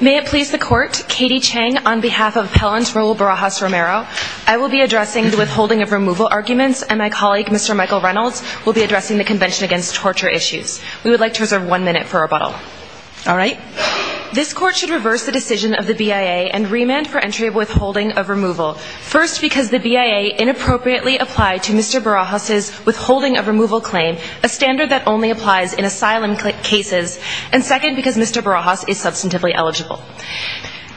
May it please the Court, Katie Chang on behalf of Appellant Raul Barajas-Romero, I will be addressing the withholding of removal arguments and my colleague Mr. Michael Reynolds will be addressing the Convention Against Torture Issues. We would like to reserve one minute for rebuttal. All right? This Court should reverse the decision of the BIA and remand for entry of withholding of removal. First, because the BIA inappropriately applied to Mr. Barajas' withholding of removal claim, a standard that only applies in asylum cases, and second, because Mr. Barajas is substantively eligible.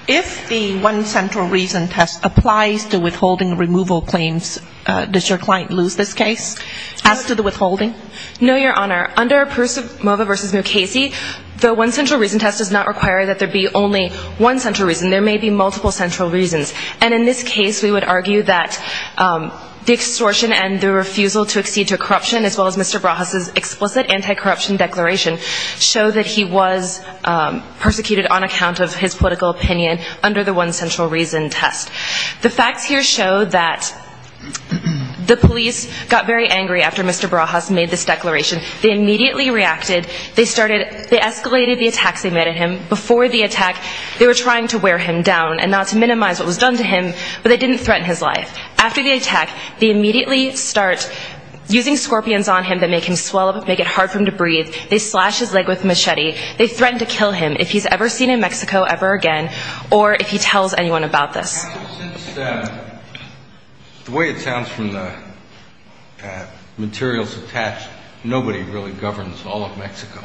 If the one central reason test applies to withholding removal claims, does your client lose this case? As to the withholding? No, Your Honor. Under Percivmova v. Mukasey, the one central reason test does not require that there be only one central reason. There may be multiple central reasons. And in this case we would argue that the extortion and the refusal to accede to corruption as well as Mr. Barajas' explicit anti-corruption declaration show that he was persecuted on account of his political opinion under the one central reason test. The facts here show that the police got very angry after Mr. Barajas made this declaration. They immediately reacted. They started, they escalated the attacks they made on him. Before the attack, they were trying to wear him down and not to minimize what was done to him, but they didn't threaten his life. After the attack, they immediately start using scorpions on him that make him swell up, make it hard for him to breathe. They slash his leg with a machete. They threaten to kill him if he's ever seen in Mexico ever again or if he tells anyone about this. The way it sounds from the materials attached, nobody really governs all of Mexico.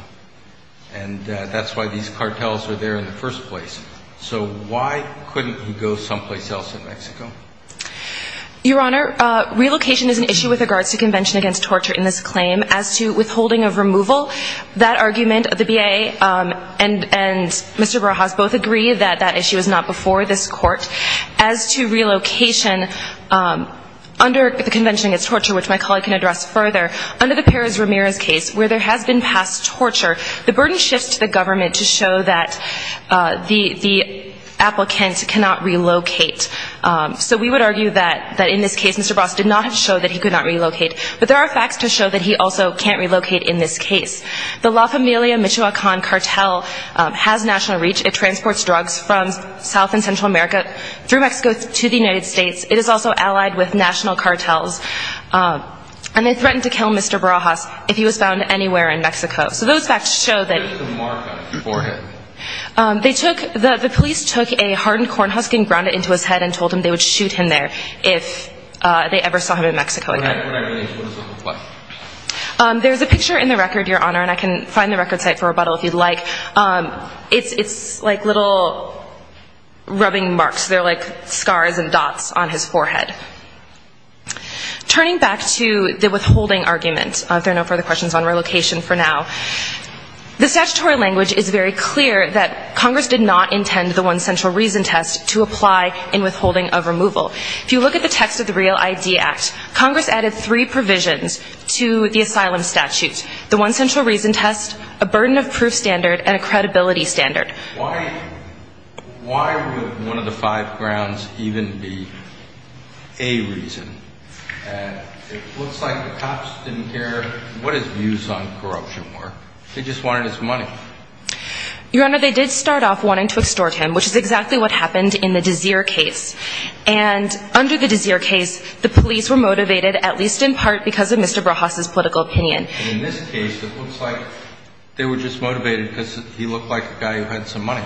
And that's why these cartels are there in the first place. So why couldn't he go someplace else in Mexico? Your Honor, relocation is an issue with regards to Convention Against Torture in this claim. As to withholding of removal, that argument, the BIA and Mr. Barajas both agree that that issue is not before this court. As to relocation, under the Convention Against Torture, which my colleague can address further, under the Perez-Ramirez case, where there has been past torture, the burden shifts to the government to show that the applicant cannot relocate. So we would argue that in this case, Mr. Barajas did not show that he could not relocate. But there are facts to show that he also can't relocate in this case. The La Familia Michoacan cartel has national reach. It transports drugs from South and Central America through Mexico to the United States. It is also allied with national cartels. And they threaten to kill Mr. Barajas if he was found anywhere in Mexico. So those facts show that the police took a look at him and told him they would shoot him there if they ever saw him in Mexico again. There is a picture in the record, Your Honor, and I can find the record site for rebuttal if you'd like. It's like little rubbing marks. They're like scars and dots on his forehead. Turning back to the withholding argument, if there are no further questions on relocation for now, the statutory language is very clear that Congress did not intend the One Central Reason test to apply in withholding of removal. If you look at the text of the Real ID Act, Congress added three provisions to the asylum statute. The One Central Reason test, a burden of proof standard, and a credibility standard. Why would one of the five grounds even be a reason? It looks like the cops didn't care what his views on corruption were. They just wanted his money. Your Honor, they did start off wanting to extort him, which is exactly what happened in the Dazeer case. And under the Dazeer case, the police were motivated, at least in part, because of Mr. Barajas' political opinion. And in this case, it looks like they were just motivated because he looked like a guy who had some money.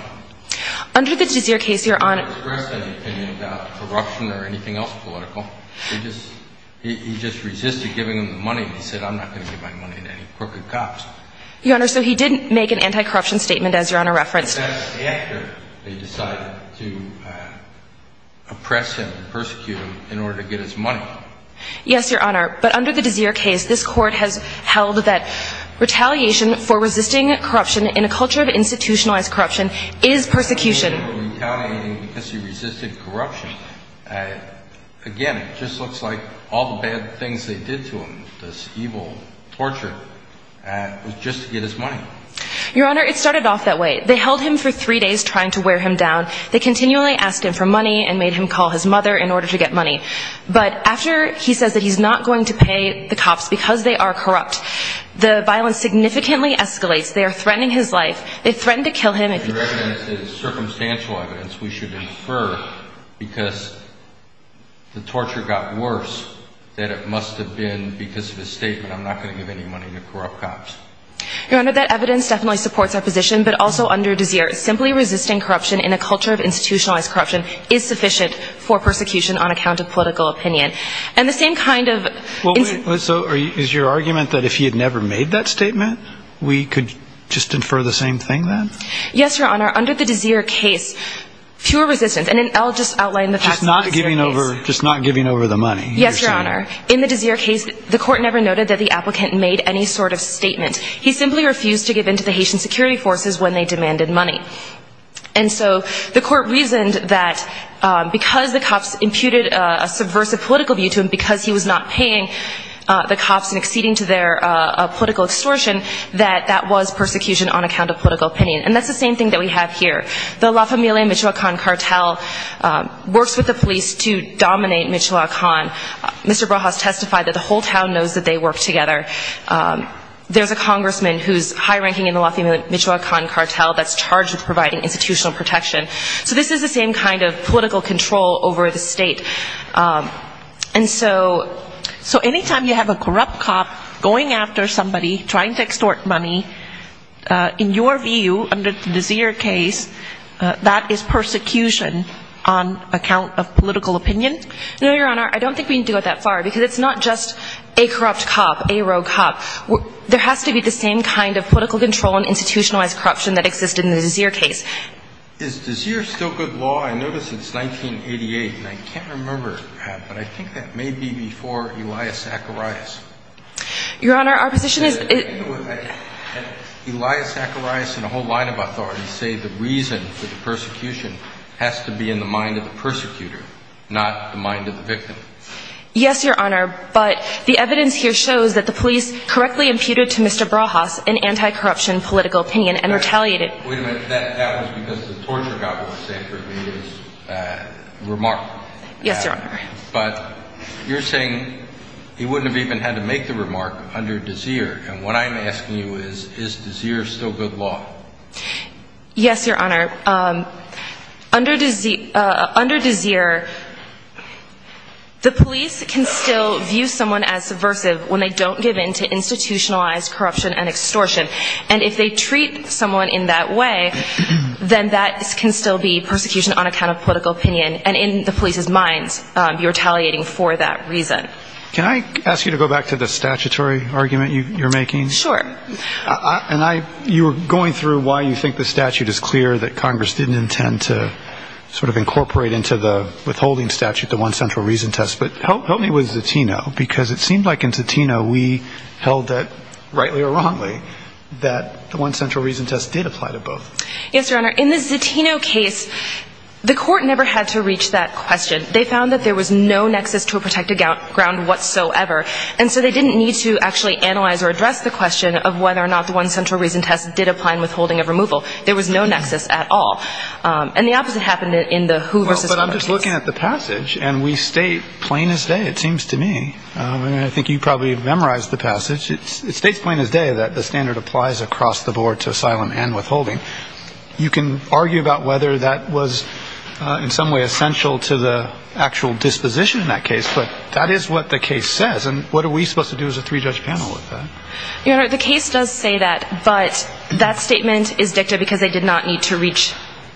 Under the Dazeer case, Your Honor He didn't express any opinion about corruption or anything else political. He just resisted giving him the money. He said, I'm not going to give my money to any crooked cops. Your Honor, so he didn't make an anti-corruption statement, as Your Honor referenced. Yes, after they decided to oppress him and persecute him in order to get his money. Yes, Your Honor. But under the Dazeer case, this Court has held that retaliation for resisting corruption in a culture of institutionalized corruption is persecution. He was retaliating because he resisted corruption. Again, it just looks like all the bad things they did to him, this evil torture, was just to get his money. Your Honor, it started off that way. They held him for three days trying to wear him down. They continually asked him for money and made him call his mother in order to get money. But after he says that he's not going to pay the cops because they are corrupt, the violence significantly escalates. They are threatening his life. They threaten to kill him. If your evidence is circumstantial evidence, we should infer because the torture got worse that it must have been because of his statement, I'm not going to give any money to corrupt cops. Your Honor, that evidence definitely supports our position. But also under Dazeer, simply resisting corruption in a culture of institutionalized corruption is sufficient for persecution on account of political opinion. And the same kind of... Well, wait. So is your argument that if he had never made that statement, we could just infer the same thing then? Yes, Your Honor. Under the Dazeer case, fewer resistance. And I'll just outline the facts of the Dazeer case. Just not giving over the money. Yes, Your Honor. In the Dazeer case, the court never noted that the applicant made any sort of statement. He simply refused to give in to the Haitian security forces when they demanded money. And so the court reasoned that because the cops imputed a subversive political view to him because he was not paying the cops and acceding to their political extortion, that that was persecution on account of political opinion. And that's the same thing that we have here. The La Familia Michoacan cartel works with the police to dominate Michoacan. Mr. Rojas testified that the whole town knows that they work together. There's a congressman who's high-ranking in the La Familia Michoacan cartel that's charged with providing institutional protection. So this is the same kind of political control over the state. And so anytime you have a corrupt cop going after somebody, trying to extort money, in your view, under the Dazeer case, that is persecution on account of political opinion? No, Your Honor. I don't think we need to go that far. Because it's not just a corrupt cop, a rogue cop. There has to be the same kind of political control and institutionalized corruption that exists in the Dazeer case. Is Dazeer still good law? I notice it's 1988. And I can't remember, but I think that may be before Elias Zacharias. Your Honor, our position is... Elias Zacharias and a whole line of authorities say the reason for the persecution has to be in the mind of the persecutor, not the mind of the victim. Yes, Your Honor. But the evidence here shows that the police correctly imputed to Mr. Rojas an anti-corruption political opinion and retaliated... Wait a minute. That was because the torture cop was saying for Elias' remark. Yes, Your Honor. But you're saying he wouldn't have even had to make the remark under Dazeer. And what I'm asking you is, is Dazeer still good law? Yes, Your Honor. Under Dazeer, the police can still view someone as subversive when they don't give in to institutionalized corruption and extortion. And if they treat someone in that way, then that can still be persecution on account of political opinion. And in the police's minds, you're retaliating for that reason. Can I ask you to go back to the statutory argument you're making? Sure. And you were going through why you think the statute is clear that Congress didn't intend to sort of incorporate into the withholding statute the one central reason test. But help me with Zatino, because it seemed like in Zatino we held that, rightly or wrongly, that the one central reason test did apply to both. Yes, Your Honor. In the Zatino case, the court never had to reach that question. They found that there was no nexus to a protected ground whatsoever. And so they didn't need to actually analyze or address the question of whether or not the one central reason test did apply in withholding of removal. There was no nexus at all. And the opposite happened in the Who v. Congress case. But I'm just looking at the passage, and we state plain as day, it seems to me, and I think you probably memorized the passage, it states plain as day that the standard applies across the board to asylum and withholding. You can argue about whether that was in some way essential to the actual disposition in that case. But that is what the case says. And what are we supposed to do as a three-judge panel with that? Your Honor, the case does say that. But that statement is dicta because they did not need to reach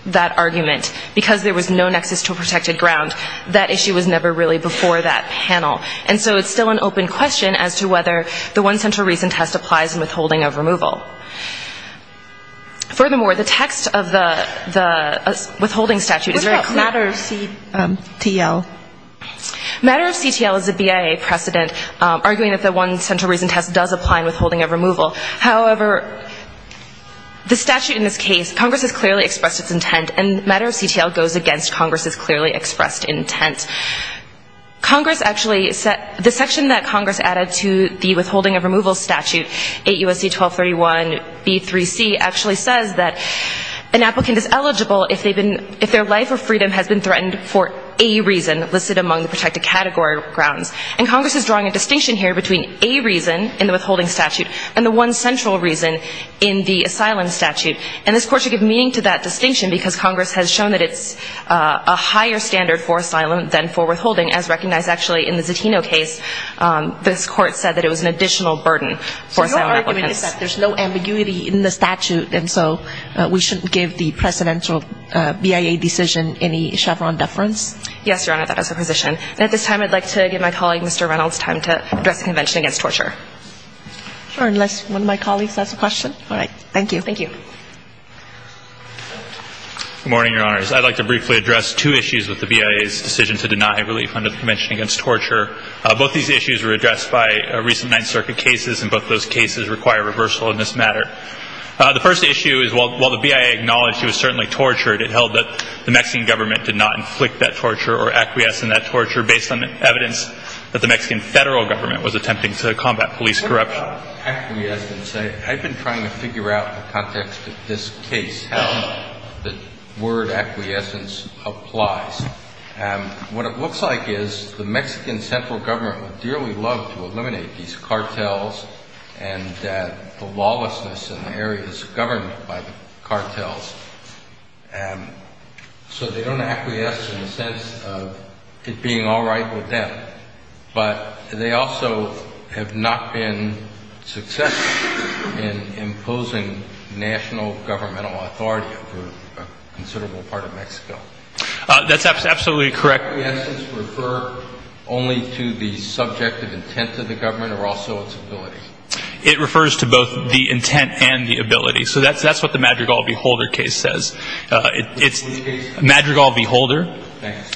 that argument. Because there was no nexus to a protected ground, that issue was never really before that panel. And so it's still an open question as to whether the one central reason test applies in withholding of removal. Furthermore, the text of the withholding statute is very clear. What about matter of CTL? Matter of CTL is a BIA precedent, arguing that the one central reason test does apply in withholding of removal. However, the statute in this case, Congress has clearly expressed its intent, and matter of CTL goes against Congress's clearly expressed intent. Congress actually set the section that Congress added to the withholding of removal statute, 8 U.S.C. 1231b3c, actually says that an applicant is eligible if their life or freedom has been threatened for a reason listed among the protected category grounds. And Congress is drawing a distinction here between a reason in the withholding statute and the one central reason in the asylum statute. And this Court should give meaning to that distinction because Congress has shown that it's a higher standard for asylum than for withholding, as recognized actually in the Zatino case, this Court said that it was an additional burden for asylum applicants. So your argument is that there's no ambiguity in the statute, and so we shouldn't give the precedential BIA decision any Chevron deference? Yes, Your Honor, that is the position. And at this time, I'd like to give my colleague, Mr. Reynolds, time to address the Convention Against Torture. Sure. Unless one of my colleagues has a question. All right. Thank you. Thank you. Good morning, Your Honors. I'd like to briefly address two issues with the BIA's decision to deny relief under the Convention Against Torture. Both these issues were addressed by recent Ninth Circuit cases, and both those cases require reversal in this matter. The first issue is, while the BIA acknowledged he was certainly tortured, it held that the Mexican government did not inflict that torture or acquiesce in that torture based on evidence that the Mexican federal government was attempting to combat police corruption. What about acquiescence? I've been trying to figure out the context of this case, how the word acquiescence applies. What it looks like is, the Mexican central government would dearly love to eliminate these cartels and the lawlessness in the areas governed by the cartels, so they don't acquiesce in the sense of it being all right with them. But they also have not been successful in imposing national governmental authority over these areas, which is a considerable part of Mexico. That's absolutely correct. Does acquiescence refer only to the subjective intent of the government, or also its ability? It refers to both the intent and the ability. So that's what the Madrigal v. Holder case says. What's the case? Madrigal v. Holder. Thanks.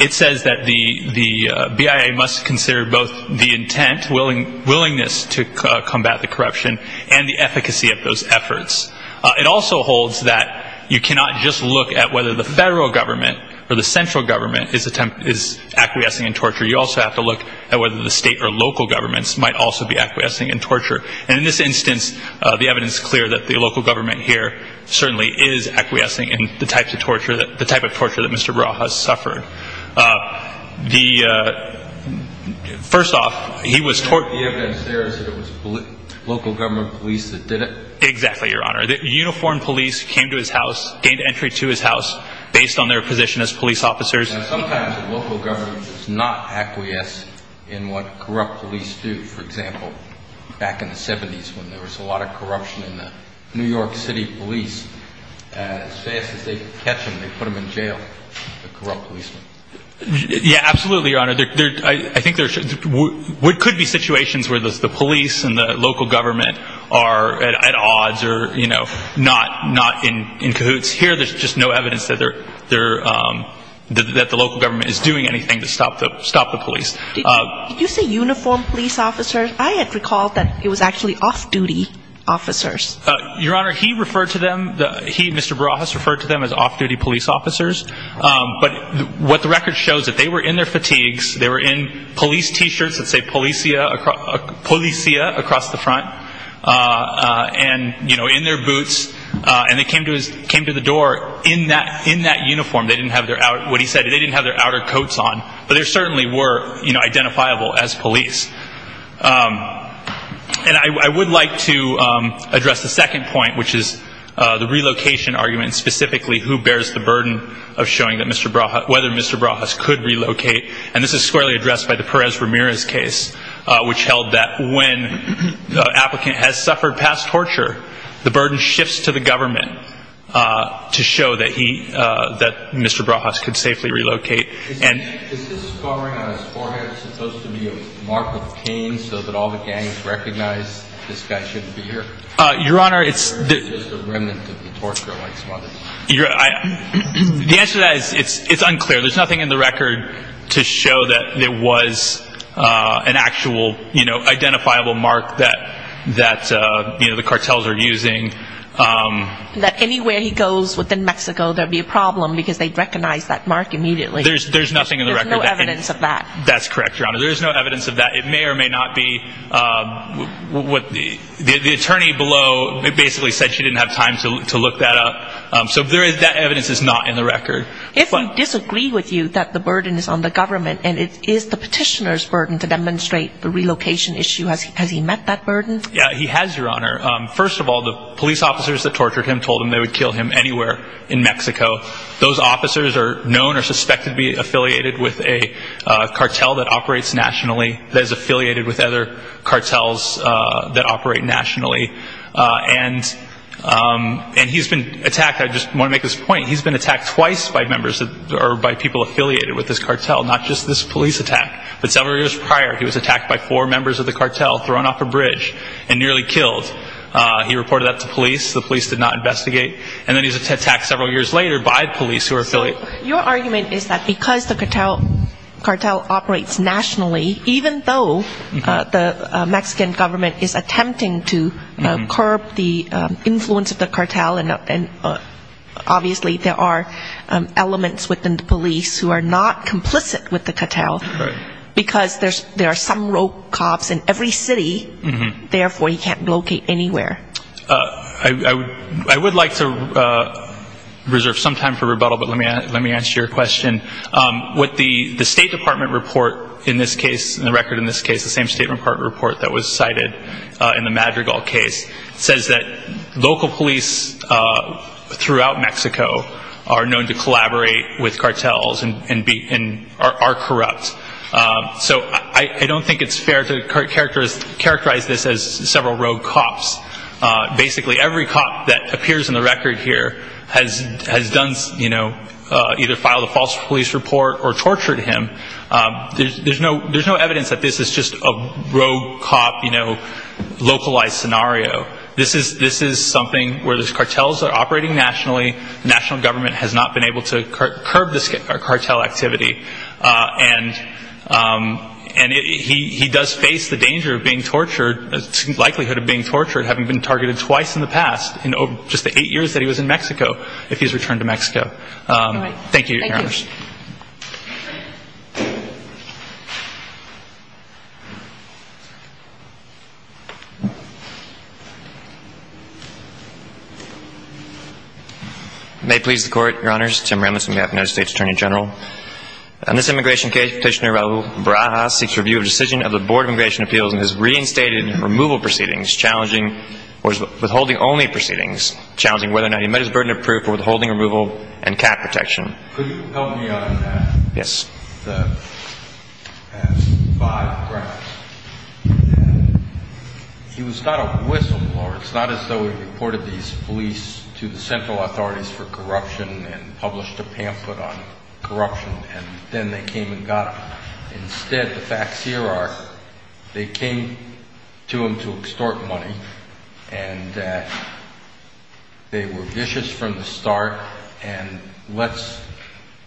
It says that the BIA must consider both the intent, willingness to combat the corruption, and the efficacy of those efforts. It also holds that you cannot just look at whether the federal government or the central government is acquiescing in torture. You also have to look at whether the state or local governments might also be acquiescing in torture. And in this instance, the evidence is clear that the local government here certainly is acquiescing in the type of torture that Mr. Barajas suffered. The evidence there is that it was local government police that did it? Exactly, Your Honor. Uniformed police came to his house, gained entry to his house based on their position as police officers. Sometimes the local government does not acquiesce in what corrupt police do. For example, back in the 70s when there was a lot of corruption in the New York City police, as fast as they could catch them, they put them in jail, the corrupt policemen. Yeah, absolutely, Your Honor. I think there could be situations where the police and the local government are at odds or not in cahoots. Here, there's just no evidence that the local government is doing anything to stop the police. Did you say uniformed police officers? I had recalled that it was actually off-duty officers. Your Honor, he referred to them, he, Mr. Barajas, referred to them as off-duty police officers. But what the record shows is that they were in their fatigues, they were in police t-shirts that say policia across the front, and in their boots, and they came to the door in that uniform. They didn't have their outer coats on, but they certainly were identifiable as police. And I would like to address the second point, which is the relocation argument, and specifically who bears the burden of showing that Mr. Barajas, whether Mr. Barajas could relocate. And this is squarely addressed by the Perez-Ramirez case, which held that when an applicant has suffered past torture, the burden shifts to the government to show that he, that Mr. Barajas could safely relocate. Is this covering on his forehead supposed to be a mark of pain so that all the gangs recognize this guy shouldn't be here? Your Honor, it's... Or is it just a remnant of the torture like some others? The answer to that is, it's unclear. There's nothing in the record to show that it was an actual, you know, identifiable mark that, that, you know, the cartels are using. That anywhere he goes within Mexico, there'd be a problem because they'd recognize that mark immediately. There's nothing in the record. There's no evidence of that. That's correct, Your Honor. There's no evidence of that. It may or may not be what the, the attorney below basically said she didn't have time to look that up. So there is, that evidence is not in the record. If you disagree with you that the burden is on the government and it is the petitioner's burden to demonstrate the relocation issue, has he met that burden? Yeah, he has, Your Honor. First of all, the police officers that tortured him told them they would kill him anywhere in Mexico. Those officers are known or suspected to be affiliated with a cartel that operates nationally, that is affiliated with other cartels that operate nationally. And, and he's been attacked. I just want to make this point. He's been attacked twice by members or by people affiliated with this cartel, not just this police attack. But several years prior, he was attacked by four members of the cartel, thrown off a bridge and nearly killed. He reported that to police. The police did not investigate. And then he was attacked several years later by police who were affiliated. So your argument is that because the cartel, cartel operates nationally, even though the Mexican government is attempting to curb the influence of the cartel and obviously there are elements within the police who are not complicit with the cartel, because there's, there's some rogue cops in every city, therefore he can't locate anywhere. I, I would like to reserve some time for rebuttal, but let me, let me answer your question. What the State Department report in this case, the record in this case, the same State Department report that was cited in the Madrigal case, says that local police throughout Mexico are known to collaborate with cartels and, and are corrupt. So I, I don't think it's fair to characterize this as several rogue cops. Basically every cop that appears in the record here has, has done, you know, either filed a false police report or tortured him. There's, there's no, there's no evidence that this is just a rogue cop, you know, localized scenario. This is, this is something where there's cartels that are operating nationally, national government has not been able to curb this cartel activity. And, and it, he, he does face the danger of being tortured, likelihood of being tortured having been targeted twice in the past, in just the eight years that he was in Mexico, if he's returned to Mexico. Thank you, Your Honor. May it please the Court, Your Honors. Tim Remitz on behalf of the United States Attorney General. On this immigration case, Petitioner Raul Barajas seeks review of decision of the Board of Immigration Appeals and has reinstated removal proceedings challenging, or withholding only proceedings challenging whether or not he met his burden of proof for withholding Yes. He was not a whistleblower. It's not as though he reported these police to the central authorities for corruption and published a pamphlet on corruption and then they came and got him. Instead, the facts here are, they came to him to extort money and they were vicious from the start and let's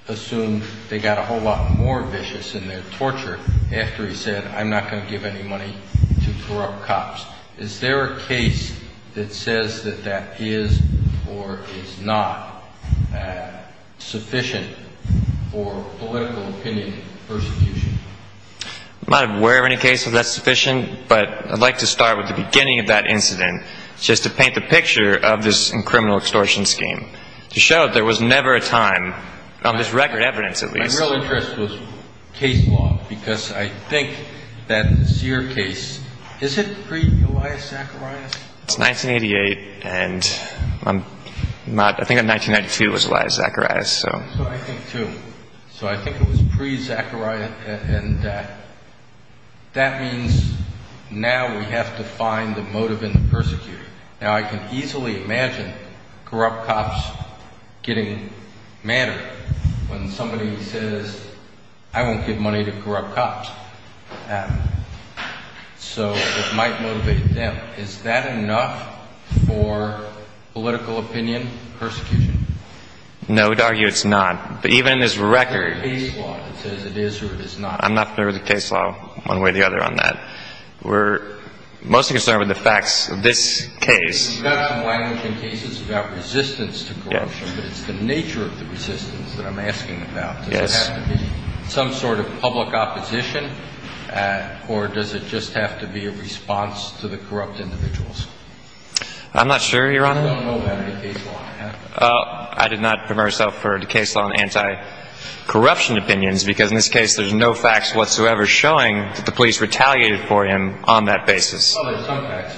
assume they got a whole lot more vicious in their torture after he said, I'm not going to give any money to corrupt cops. Is there a case that says that that is or is not sufficient for political opinion persecution? I'm not aware of any case where that's sufficient, but I'd like to start with the extortion scheme to show there was never a time, on this record evidence at least. My real interest was case law because I think that this year case, is it pre-Elias Zacharias? It's 1988 and I'm not, I think in 1992 it was Elias Zacharias, so. So I think too. So I think it was pre-Zacharias and that means now we have to find the corrupt cops getting madder when somebody says, I won't give money to corrupt cops. So it might motivate them. Is that enough for political opinion persecution? No, we'd argue it's not. But even in this record. Is there a case law that says it is or it is not? I'm not familiar with the case law one way or the other on that. We're mostly concerned with the facts of this case. You've got some language in cases about resistance to corruption, but it's the nature of the resistance that I'm asking about. Yes. Does it have to be some sort of public opposition or does it just have to be a response to the corrupt individuals? I'm not sure, Your Honor. I don't know about any case law. I did not prepare myself for a case law on anti-corruption opinions because in this case there's no facts whatsoever showing that the police retaliated for him on that basis. Well, there's some facts.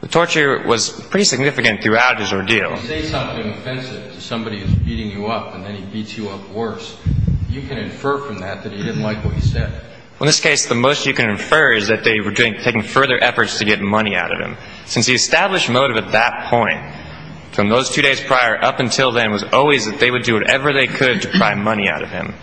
The torture was pretty significant throughout his ordeal. If you say something offensive to somebody who's beating you up and then he beats you up worse, you can infer from that that he didn't like what he said. In this case, the most you can infer is that they were taking further efforts to get money out of him. Since the established motive at that point, from those two days prior up until then, was always that they would do whatever they could to pry money out of him.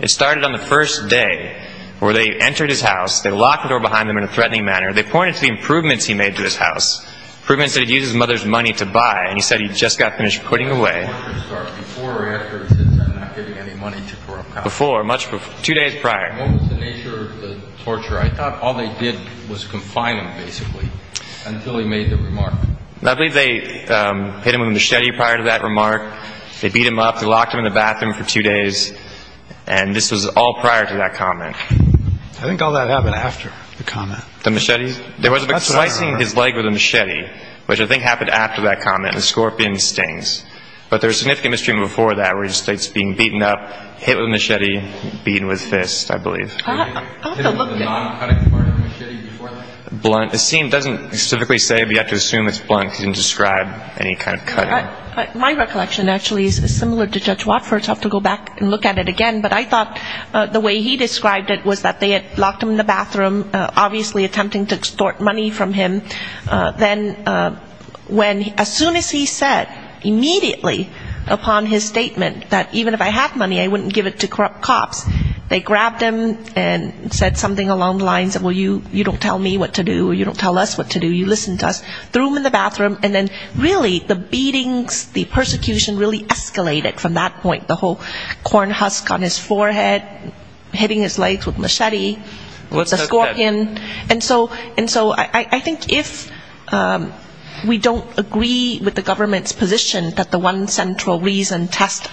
It started on the first day where they entered his home in a manner. They pointed to the improvements he made to his house. Improvements that he'd used his mother's money to buy and he said he'd just got finished putting away. Before or after he said I'm not giving any money to corrupt cops? Before. Two days prior. What was the nature of the torture? I thought all they did was confine him basically until he made the remark. I believe they hit him with a machete prior to that remark. They beat him up. They locked him in the bathroom for two days. And this was all prior to that comment. I think all that happened after the comment. The machete? Slicing his leg with a machete, which I think happened after that comment. And the scorpion stings. But there was significant mistreatment before that where he states being beaten up, hit with a machete, beaten with fists, I believe. Hit with a non-cutting part of a machete before that? Blunt. It doesn't specifically say, but you have to assume it's blunt because it doesn't describe any kind of cutting. My recollection actually is similar to Judge Watford's. I'll have to go back and look at it again. But I thought the way he described it was that they had locked him in the bathroom, obviously attempting to extort money from him. Then when, as soon as he said immediately upon his statement that even if I had money I wouldn't give it to corrupt cops, they grabbed him and said something along the lines of, well, you don't tell me what to do or you don't tell us what to do. You listen to us. Threw him in the bathroom and then really the beatings, the persecution really escalated from that point. The whole corn husk on his forehead, hitting his legs with machete, the scorpion. And so I think if we don't agree with the government's position that the one central reason test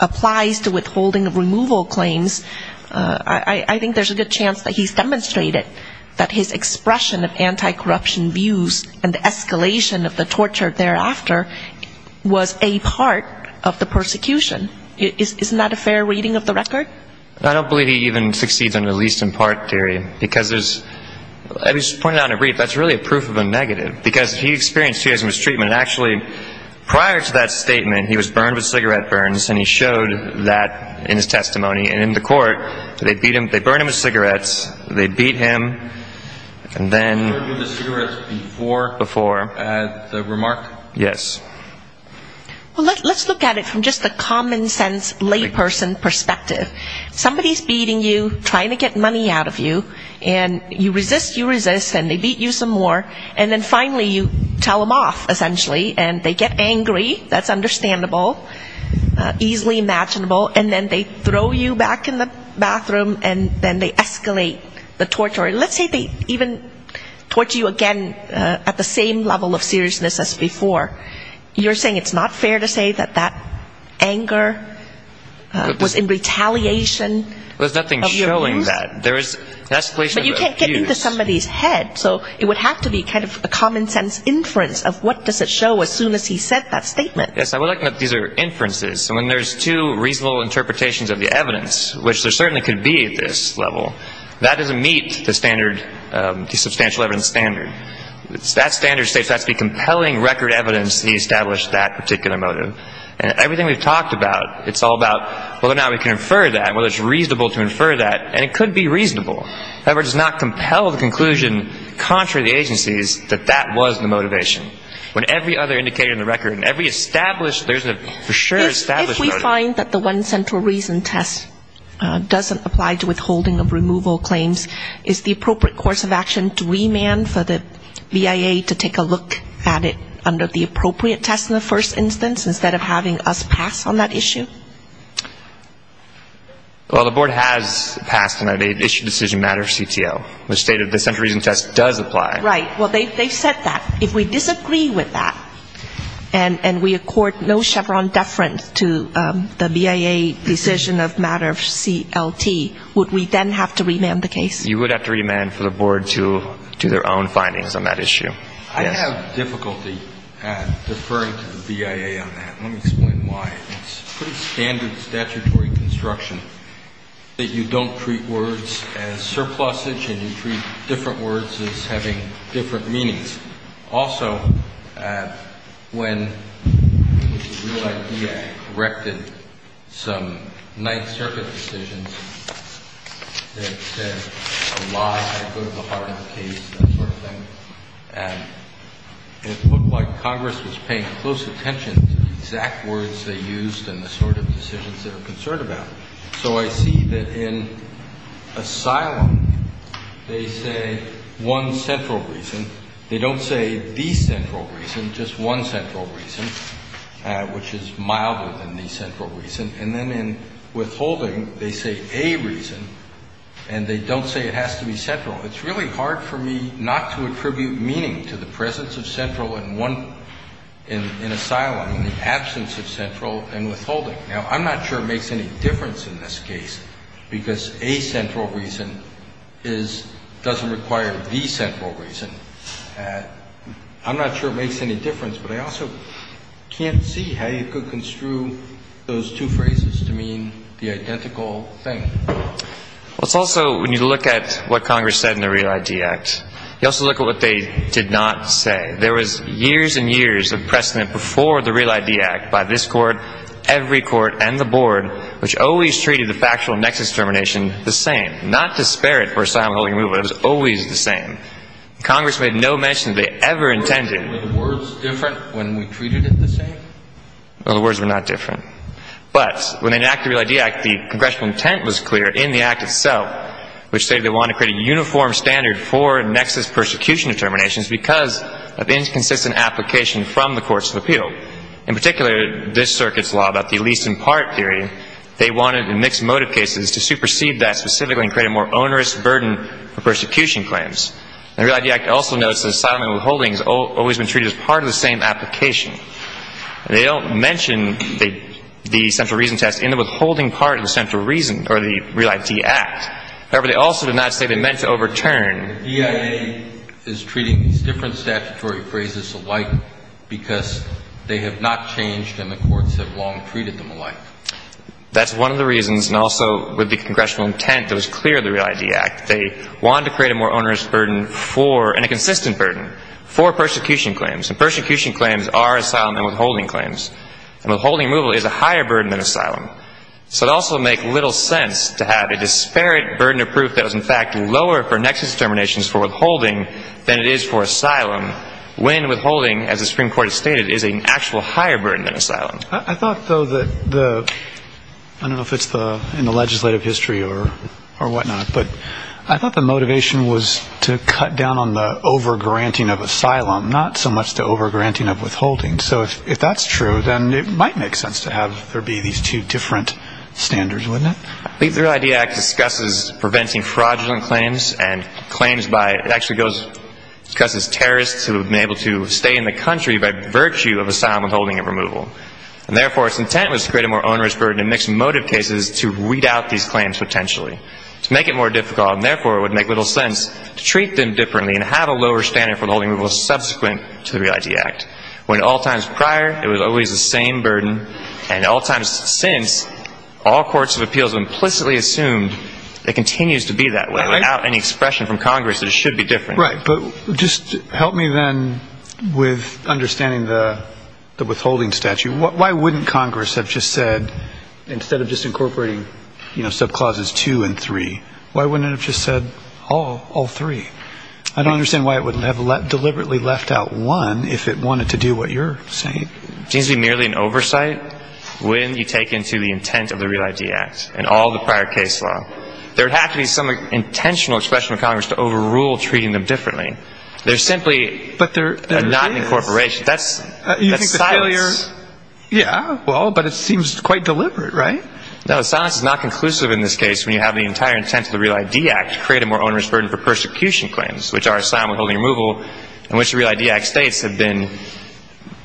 applies to withholding removal claims, I think there's a good chance that he's demonstrated that his expression of anti-corruption views and the escalation of the torture thereafter was a part of the persecution. Isn't that a fair reading of the record? I don't believe he even succeeds under the least in part theory because there's, as was pointed out in a brief, that's really a proof of a negative because he experienced serious mistreatment and actually prior to that statement he was burned with cigarette burns and he showed that in his testimony and in the court they beat him, they burned him with cigarettes, they beat him and then... Burned him with cigarettes before? Before. At the remark? Yes. Well, let's look at it from just a common sense layperson perspective. Somebody's beating you, trying to get money out of you, and you resist, you resist, and they beat you some more, and then finally you tell them off, essentially, and they get angry, that's understandable, easily imaginable, and then they throw you back in the bathroom and then they escalate the torture. Let's say they even torture you again at the same level of seriousness as before. You're saying it's not fair to say that that anger was in retaliation of your abuse? There's nothing showing that. But you can't get into somebody's head, so it would have to be kind of a common sense inference of what does it show as soon as he said that statement. Yes, I would like to know if these are inferences. So when there's two reasonable interpretations of the evidence, which there certainly could be at this level, that doesn't meet the standard, the substantial evidence that meets the standard. That standard states that's the compelling record evidence to establish that particular motive. And everything we've talked about, it's all about, well, now we can infer that, whether it's reasonable to infer that, and it could be reasonable. However, it does not compel the conclusion contrary to the agency's that that was the motivation. When every other indicator in the record and every established, there's a for sure established motive. If we find that the one central reason test doesn't apply to withholding of evidence, would it be appropriate for the BIA to take a look at it under the appropriate test in the first instance, instead of having us pass on that issue? Well, the board has passed an issue decision matter CTO, which stated the central reason test does apply. Right. Well, they've said that. If we disagree with that, and we accord no Chevron deference to the BIA decision of matter of CLT, would we then have to remand the case? You would have to remand for the board to do their own thing. I have difficulty deferring to the BIA on that. Let me explain why. It's pretty standard statutory construction that you don't treat words as surpluses and you treat different words as having different meanings. Also, when the BIA corrected some Ninth Circuit decisions that said a lie had to go to the heart of the case, that sort of thing, and it looked like Congress was paying close attention to the exact words they used and the sort of decisions they were concerned about. So I see that in asylum, they say one central reason. They don't say the central reason, just one central reason, which is milder than the central reason. And then in withholding, they say a reason, and they don't say it has to be central. It's really hard for me not to attribute meaning to the presence of central in one, in asylum, in the absence of central and withholding. Now, I'm not sure it makes any difference in this case, because a central reason is, doesn't require the central reason. I'm not sure it makes any difference, but I also can't see how you could construe those two phrases to mean the identical thing. Let's also, when you look at what Congress said in the REAL ID Act, you also look at what they did not say. There was years and years of precedent before the REAL ID Act by this Court, every Court, and the Board, which always treated the factual nexus determination the same. Not to spare it for asylum holding removal. It was always the same. Congress made no mention that they ever intended. Were the words different when we treated it the same? Well, the words were not different. But when they enacted the REAL ID Act, the words were clear in the Act itself, which stated they wanted to create a uniform standard for nexus persecution determinations because of inconsistent application from the courts of appeal. In particular, this circuit's law about the least in part theory, they wanted in mixed motive cases to supersede that specifically and create a more onerous burden for persecution claims. The REAL ID Act also notes that asylum and withholding has always been treated as part of the same application. They don't mention the central reason test in the withholding removal, but they do mention that asylum and withholding has always been treated as part of the central reason or the REAL ID Act. However, they also did not say they meant to overturn. The EIA is treating these different statutory phrases alike because they have not changed and the courts have long treated them alike. That's one of the reasons, and also with the congressional intent that was clear in the REAL ID Act. They wanted to create a more onerous burden for, and a also make little sense to have a disparate burden of proof that was in fact lower for nexus determinations for withholding than it is for asylum when withholding, as the Supreme Court has stated, is an actual higher burden than asylum. I thought, though, that the, I don't know if it's in the legislative history or whatnot, but I thought the motivation was to cut down on the over-granting of asylum, not so much the over-granting of withholding. So if that's true, then it might make sense to have there be these two different standards. I believe the REAL ID Act discusses preventing fraudulent claims and claims by, it actually goes, discusses terrorists who have been able to stay in the country by virtue of asylum withholding and removal. And therefore, its intent was to create a more onerous burden in mixed motive cases to weed out these claims potentially. To make it more difficult, and therefore, it would make little sense to treat them differently and have a lower standard for withholding and removal subsequent to the REAL ID Act. When at all times prior, it was always the same burden, and at all times since, all courts of appeals have implicitly assumed that it continues to be that way without any expression from Congress that it should be different. Right. But just help me then with understanding the withholding statute. Why wouldn't Congress have just said, instead of just incorporating, you know, sub-clauses two and three, why wouldn't it have just said all three? I don't understand why it wouldn't have deliberately left out one if it wanted to do what you're saying. It seems to be merely an oversight when you take into the intent of the REAL ID Act and all the prior case law. There would have to be some intentional expression of Congress to overrule treating them differently. There simply is not an incorporation. That's silence. Yeah, well, but it seems quite deliberate, right? No, silence is not conclusive in this case when you have the entire intent of the REAL ID Act to create a more onerous burden for persecution claims, which are asylum withholding and removal, in which the REAL ID Act states have been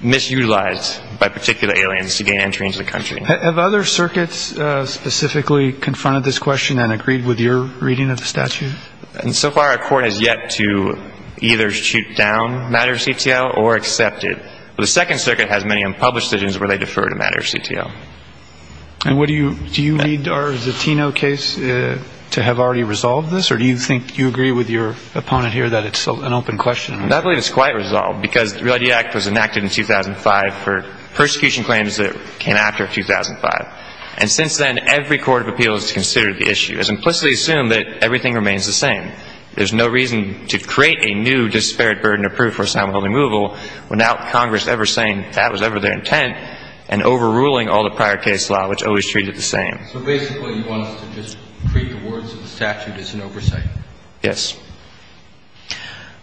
misutilized by particular aliens to gain entry into the country. Have other circuits specifically confronted this question and agreed with your reading of the statute? So far, our court has yet to either shoot down MATTER CTL or accept it. The Second Circuit has many unpublished decisions where they defer to MATTER CTL. Do you read our Zatino case to have already resolved this, or do you think you agree with your opponent here that it's an open question? I believe it's quite resolved, because the REAL ID Act was enacted in 2005 for persecution claims that came after 2005. And since then, every court of appeals has considered the issue, has implicitly assumed that everything remains the same. There's no reason to create a new disparate burden of proof for asylum withholding and removal without Congress ever saying that was ever their intent and overruling all the prior case law, which always treats it the same. So basically, you want us to just agree the words of the statute as an oversight? Yes.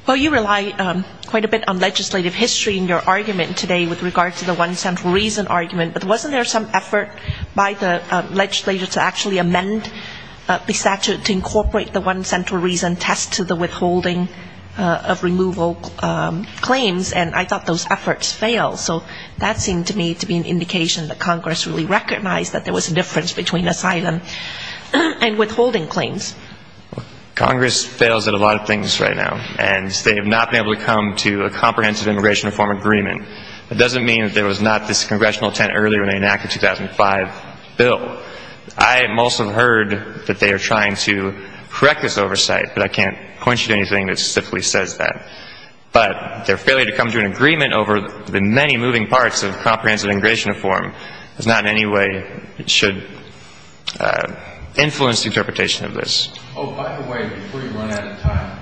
Well, you rely quite a bit on legislative history in your argument today with regard to the one central reason argument, but wasn't there some effort by the legislature to actually amend the statute to incorporate the one central reason test to the withholding of removal claims? And I thought those efforts failed. So that seemed to me to be an indication that Congress really recognized that there was a difference between asylum and withholding claims. Congress fails at a lot of things right now. And they have not been able to come to a comprehensive immigration reform agreement. That doesn't mean that there was not this congressional intent earlier when they enacted the 2005 bill. I most have heard that they are trying to correct this oversight, but I can't point you to anything that specifically says that. But their failure to come to an agreement over the many moving parts of comprehensive immigration reform does not in any way should influence the interpretation of this. Oh, by the way, before you run out of time,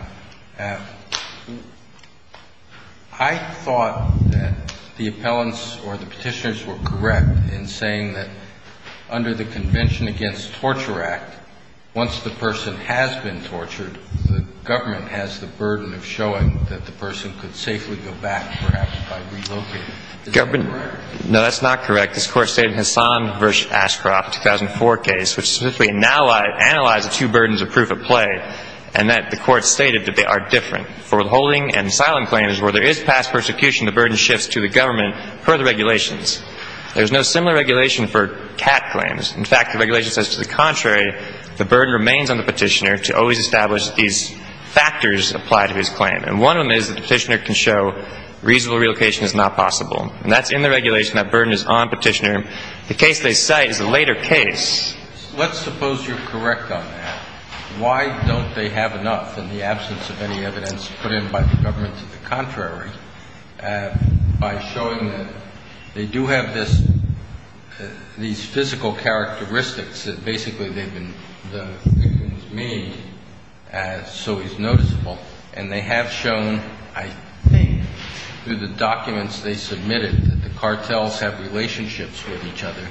I thought that the appellants or the petitioners were correct in saying that under the Convention Against Torture Act, once the person has been tortured, the government has the burden of showing that the person could safely go back, perhaps by relocating. Is that correct? No, that's not correct. This Court stated in Hassan v. Ashcroft, 2004 case, which specifically analyzed the two burdens of proof of play, and that the Court stated that they are different. For withholding and asylum claims, where there is past persecution, the burden shifts to the government per the regulations. There is no similar regulation for CAT claims. In fact, the regulation says to the contrary, the burden remains on the petitioner to always establish that these factors apply to his claim. And one of them is that the petitioner can show reasonable relocation is not possible. And that's in the regulation. That burden is on the petitioner. The case they cite is a later case. Let's suppose you're correct on that. Why don't they have enough in the absence of any evidence put in by the government to the contrary by showing that they do have this, these physical characteristics that basically they've been made so is noticeable. And they have shown, I think, through the documents they submitted, that the two of them are very similar in nature to each other.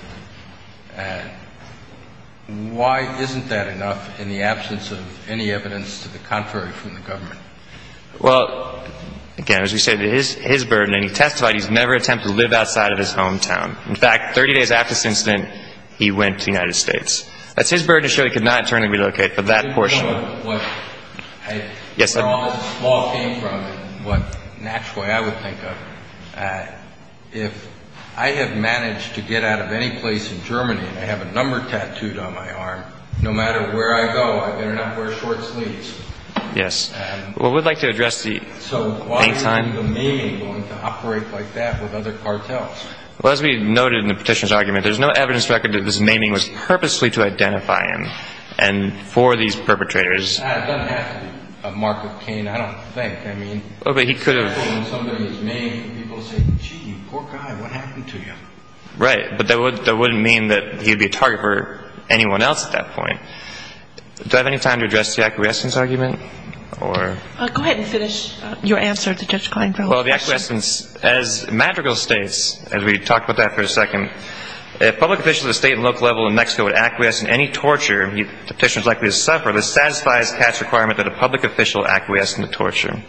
Why isn't that enough in the absence of any evidence to the contrary from the government? Well, again, as we stated, his burden, and he testified, he's never attempted to live outside of his hometown. In fact, 30 days after this incident, he went to the United States. That's his burden to show he could not internally relocate for that portion. Where all this flaw came from, in an actual way I would think of, if I have managed to get out of any place in Germany and I have a number tattooed on my arm, no matter where I go, I better not wear short sleeves. Yes. Well, we'd like to address the pain time. So why isn't the naming going to operate like that with other cartels? Well, as we noted in the petitioner's argument, there's no evidence record that this naming was purposely to identify him and for these perpetrators. It doesn't have to be a mark of pain, I don't think. I mean, especially when somebody is named, people say, gee, poor guy, what happened to you? Right. But that wouldn't mean that he would be a target for anyone else at that point. Do I have any time to address the acquiescence argument? Go ahead and finish your answer to Judge Kleinfeld's question. Well, the acquiescence, as Madrigal states, as we talk about that for a second, if public officials at the state and local level in Mexico would acquiesce in any torture, the petitioner is likely to suffer, this satisfies Katz's requirement that a public official acquiesce in the torture.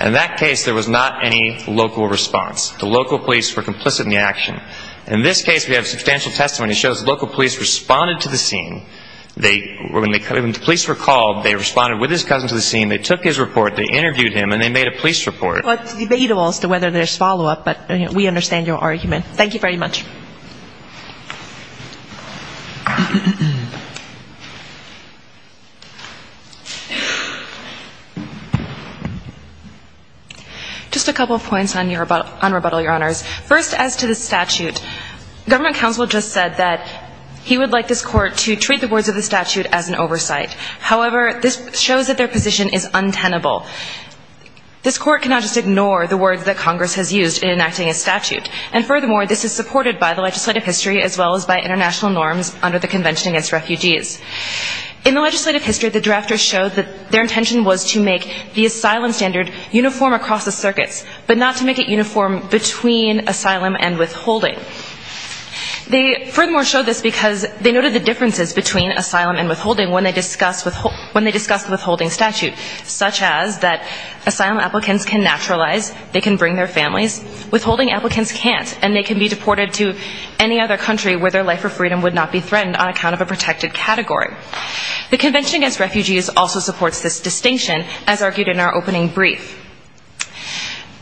In that case, there was not any local response. The local police were complicit in the action. In this case, we have substantial testimony that shows the local police responded to the scene. When the police were called, they responded with his cousin to the scene, they took his report, they interviewed him, and they made a police report. Well, it's debatable as to whether there's follow-up, but we understand your argument. Thank you very much. Just a couple of points on rebuttal, Your Honors. First, as to the statute, government counsel just said that he would like this court to treat the words of the statute as an oversight. However, this shows that their position is untenable. This court cannot just ignore the words that Congress has used in enacting a statute. In the legislative history, the drafters showed that their intention was to make the asylum standard uniform across the circuits, but not to make it uniform between asylum and withholding. They furthermore showed this because they noted the differences between asylum and withholding when they discussed the withholding statute, such as that asylum applicants can naturalize, they can bring their families. Withholding applicants can't, and they can be deported to a prison. They can't be deported to any other country where their life or freedom would not be threatened on account of a protected category. The Convention Against Refugees also supports this distinction, as argued in our opening brief.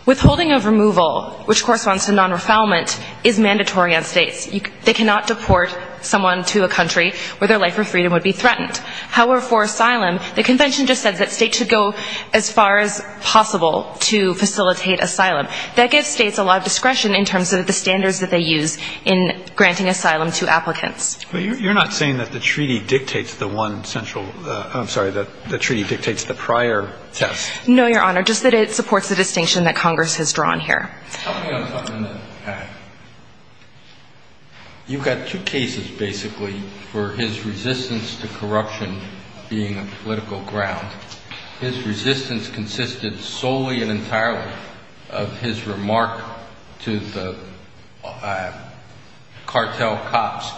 Withholding of removal, which corresponds to non-refoulement, is mandatory on states. They cannot deport someone to a country where their life or freedom would be threatened. However, for asylum, the convention just says that states should go as far as possible to facilitate asylum. That gives states a lot of discretion in terms of the standards that they use in granting asylum to applicants. But you're not saying that the treaty dictates the one central, I'm sorry, that the treaty dictates the prior test? No, Your Honor, just that it supports the distinction that Congress has drawn here. You've got two cases, basically, for his resistance to corruption being a political ground. His resistance consisted solely and entirely of his remark to the cartel cops,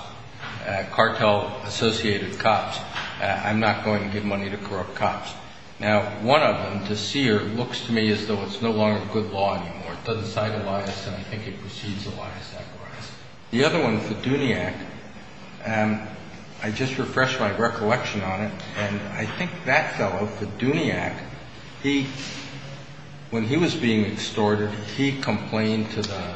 cartel-associated cops, I'm not going to give money to corrupt cops. Now, one of them, De Seer, looks to me as though it's no longer a good law anymore. It doesn't cite Elias, and I think it precedes Elias. The other one, Fiduniak, I just refreshed my recollection on it, and I think that fellow, Fiduniak, he, when he was being extorted, he complained to the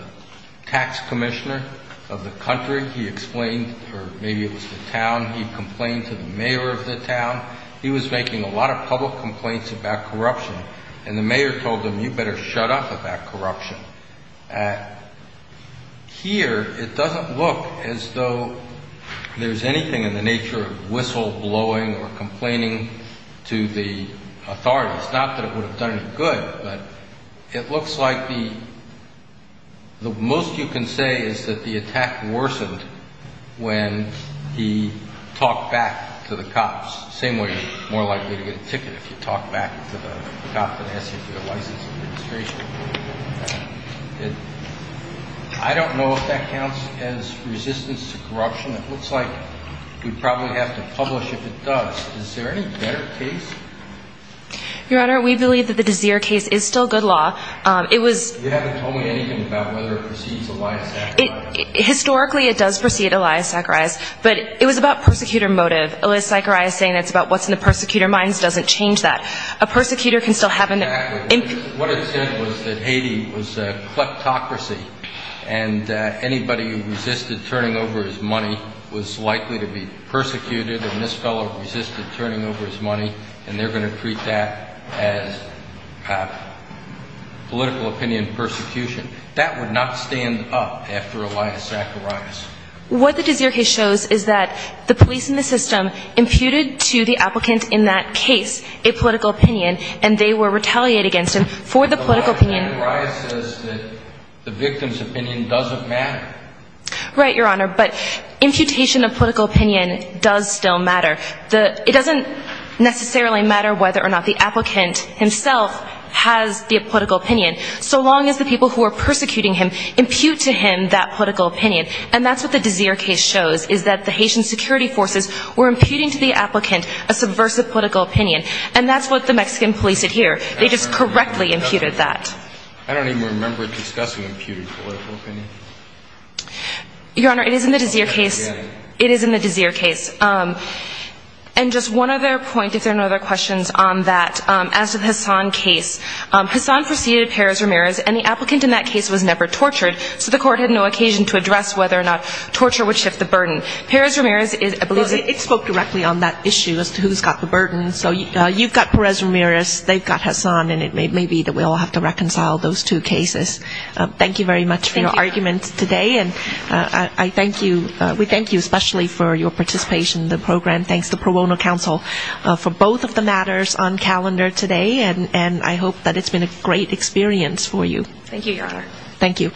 tax commissioner of the country. He explained, or maybe it was the town, he complained to the mayor of the town. He was making a lot of public complaints about corruption, and the mayor told him, you better shut up about corruption. Here, it doesn't look as though there's anything in the nature of whistleblowing or complaining to the authorities. Not that it would have done any good, but it looks like the most you can say is that the attack worsened when he talked back to the cops, the same way you're more likely to get a ticket if you talk back to the cop that asks you for your license and registration. I don't know if that counts as resistance to corruption. It looks like we'd probably have to publish if it does. Is there any better case? Your Honor, we believe that the Dazeer case is still good law. You haven't told me anything about whether it precedes Elias Zacharias. Historically, it does precede Elias Zacharias, but it was about persecutor motive. Elias Zacharias saying it's about what's in the persecutor minds doesn't change that. A persecutor can still have an impact. What it said was that Haiti was a kleptocracy, and anybody who resisted turning over his money was going to be treated as political opinion persecution. That would not stand up after Elias Zacharias. What the Dazeer case shows is that the police in the system imputed to the applicant in that case a political opinion, and they were retaliated against him for the political opinion. Elias Zacharias says that the victim's opinion doesn't matter. Right, Your Honor, but imputation of political opinion does still matter. It doesn't necessarily matter whether or not the applicant himself has the political opinion, so long as the people who are persecuting him impute to him that political opinion. And that's what the Dazeer case shows, is that the Haitian security forces were imputing to the applicant a subversive political opinion. And that's what the Mexican police did here. They just correctly imputed that. I don't even remember discussing imputed political opinion. Your Honor, it is in the Dazeer case. It is in the Dazeer case. And just one other point, if there are no other questions on that. As to the Hassan case, Hassan preceded Perez-Ramirez, and the applicant in that case was never tortured, so the court had no occasion to address whether or not torture would shift the burden. Perez-Ramirez is, I believe it spoke directly on that issue as to who's got the burden. So you've got Perez-Ramirez, they've got Hassan, and it may be that we all have to reconcile those two cases. Thank you very much for your arguments today, and I thank you, we thank you especially for your participation in the program. Thanks to Pro Bono Council for both of the matters on calendar today, and I hope that it's been a great experience for you. Thank you, Your Honor. Thank you.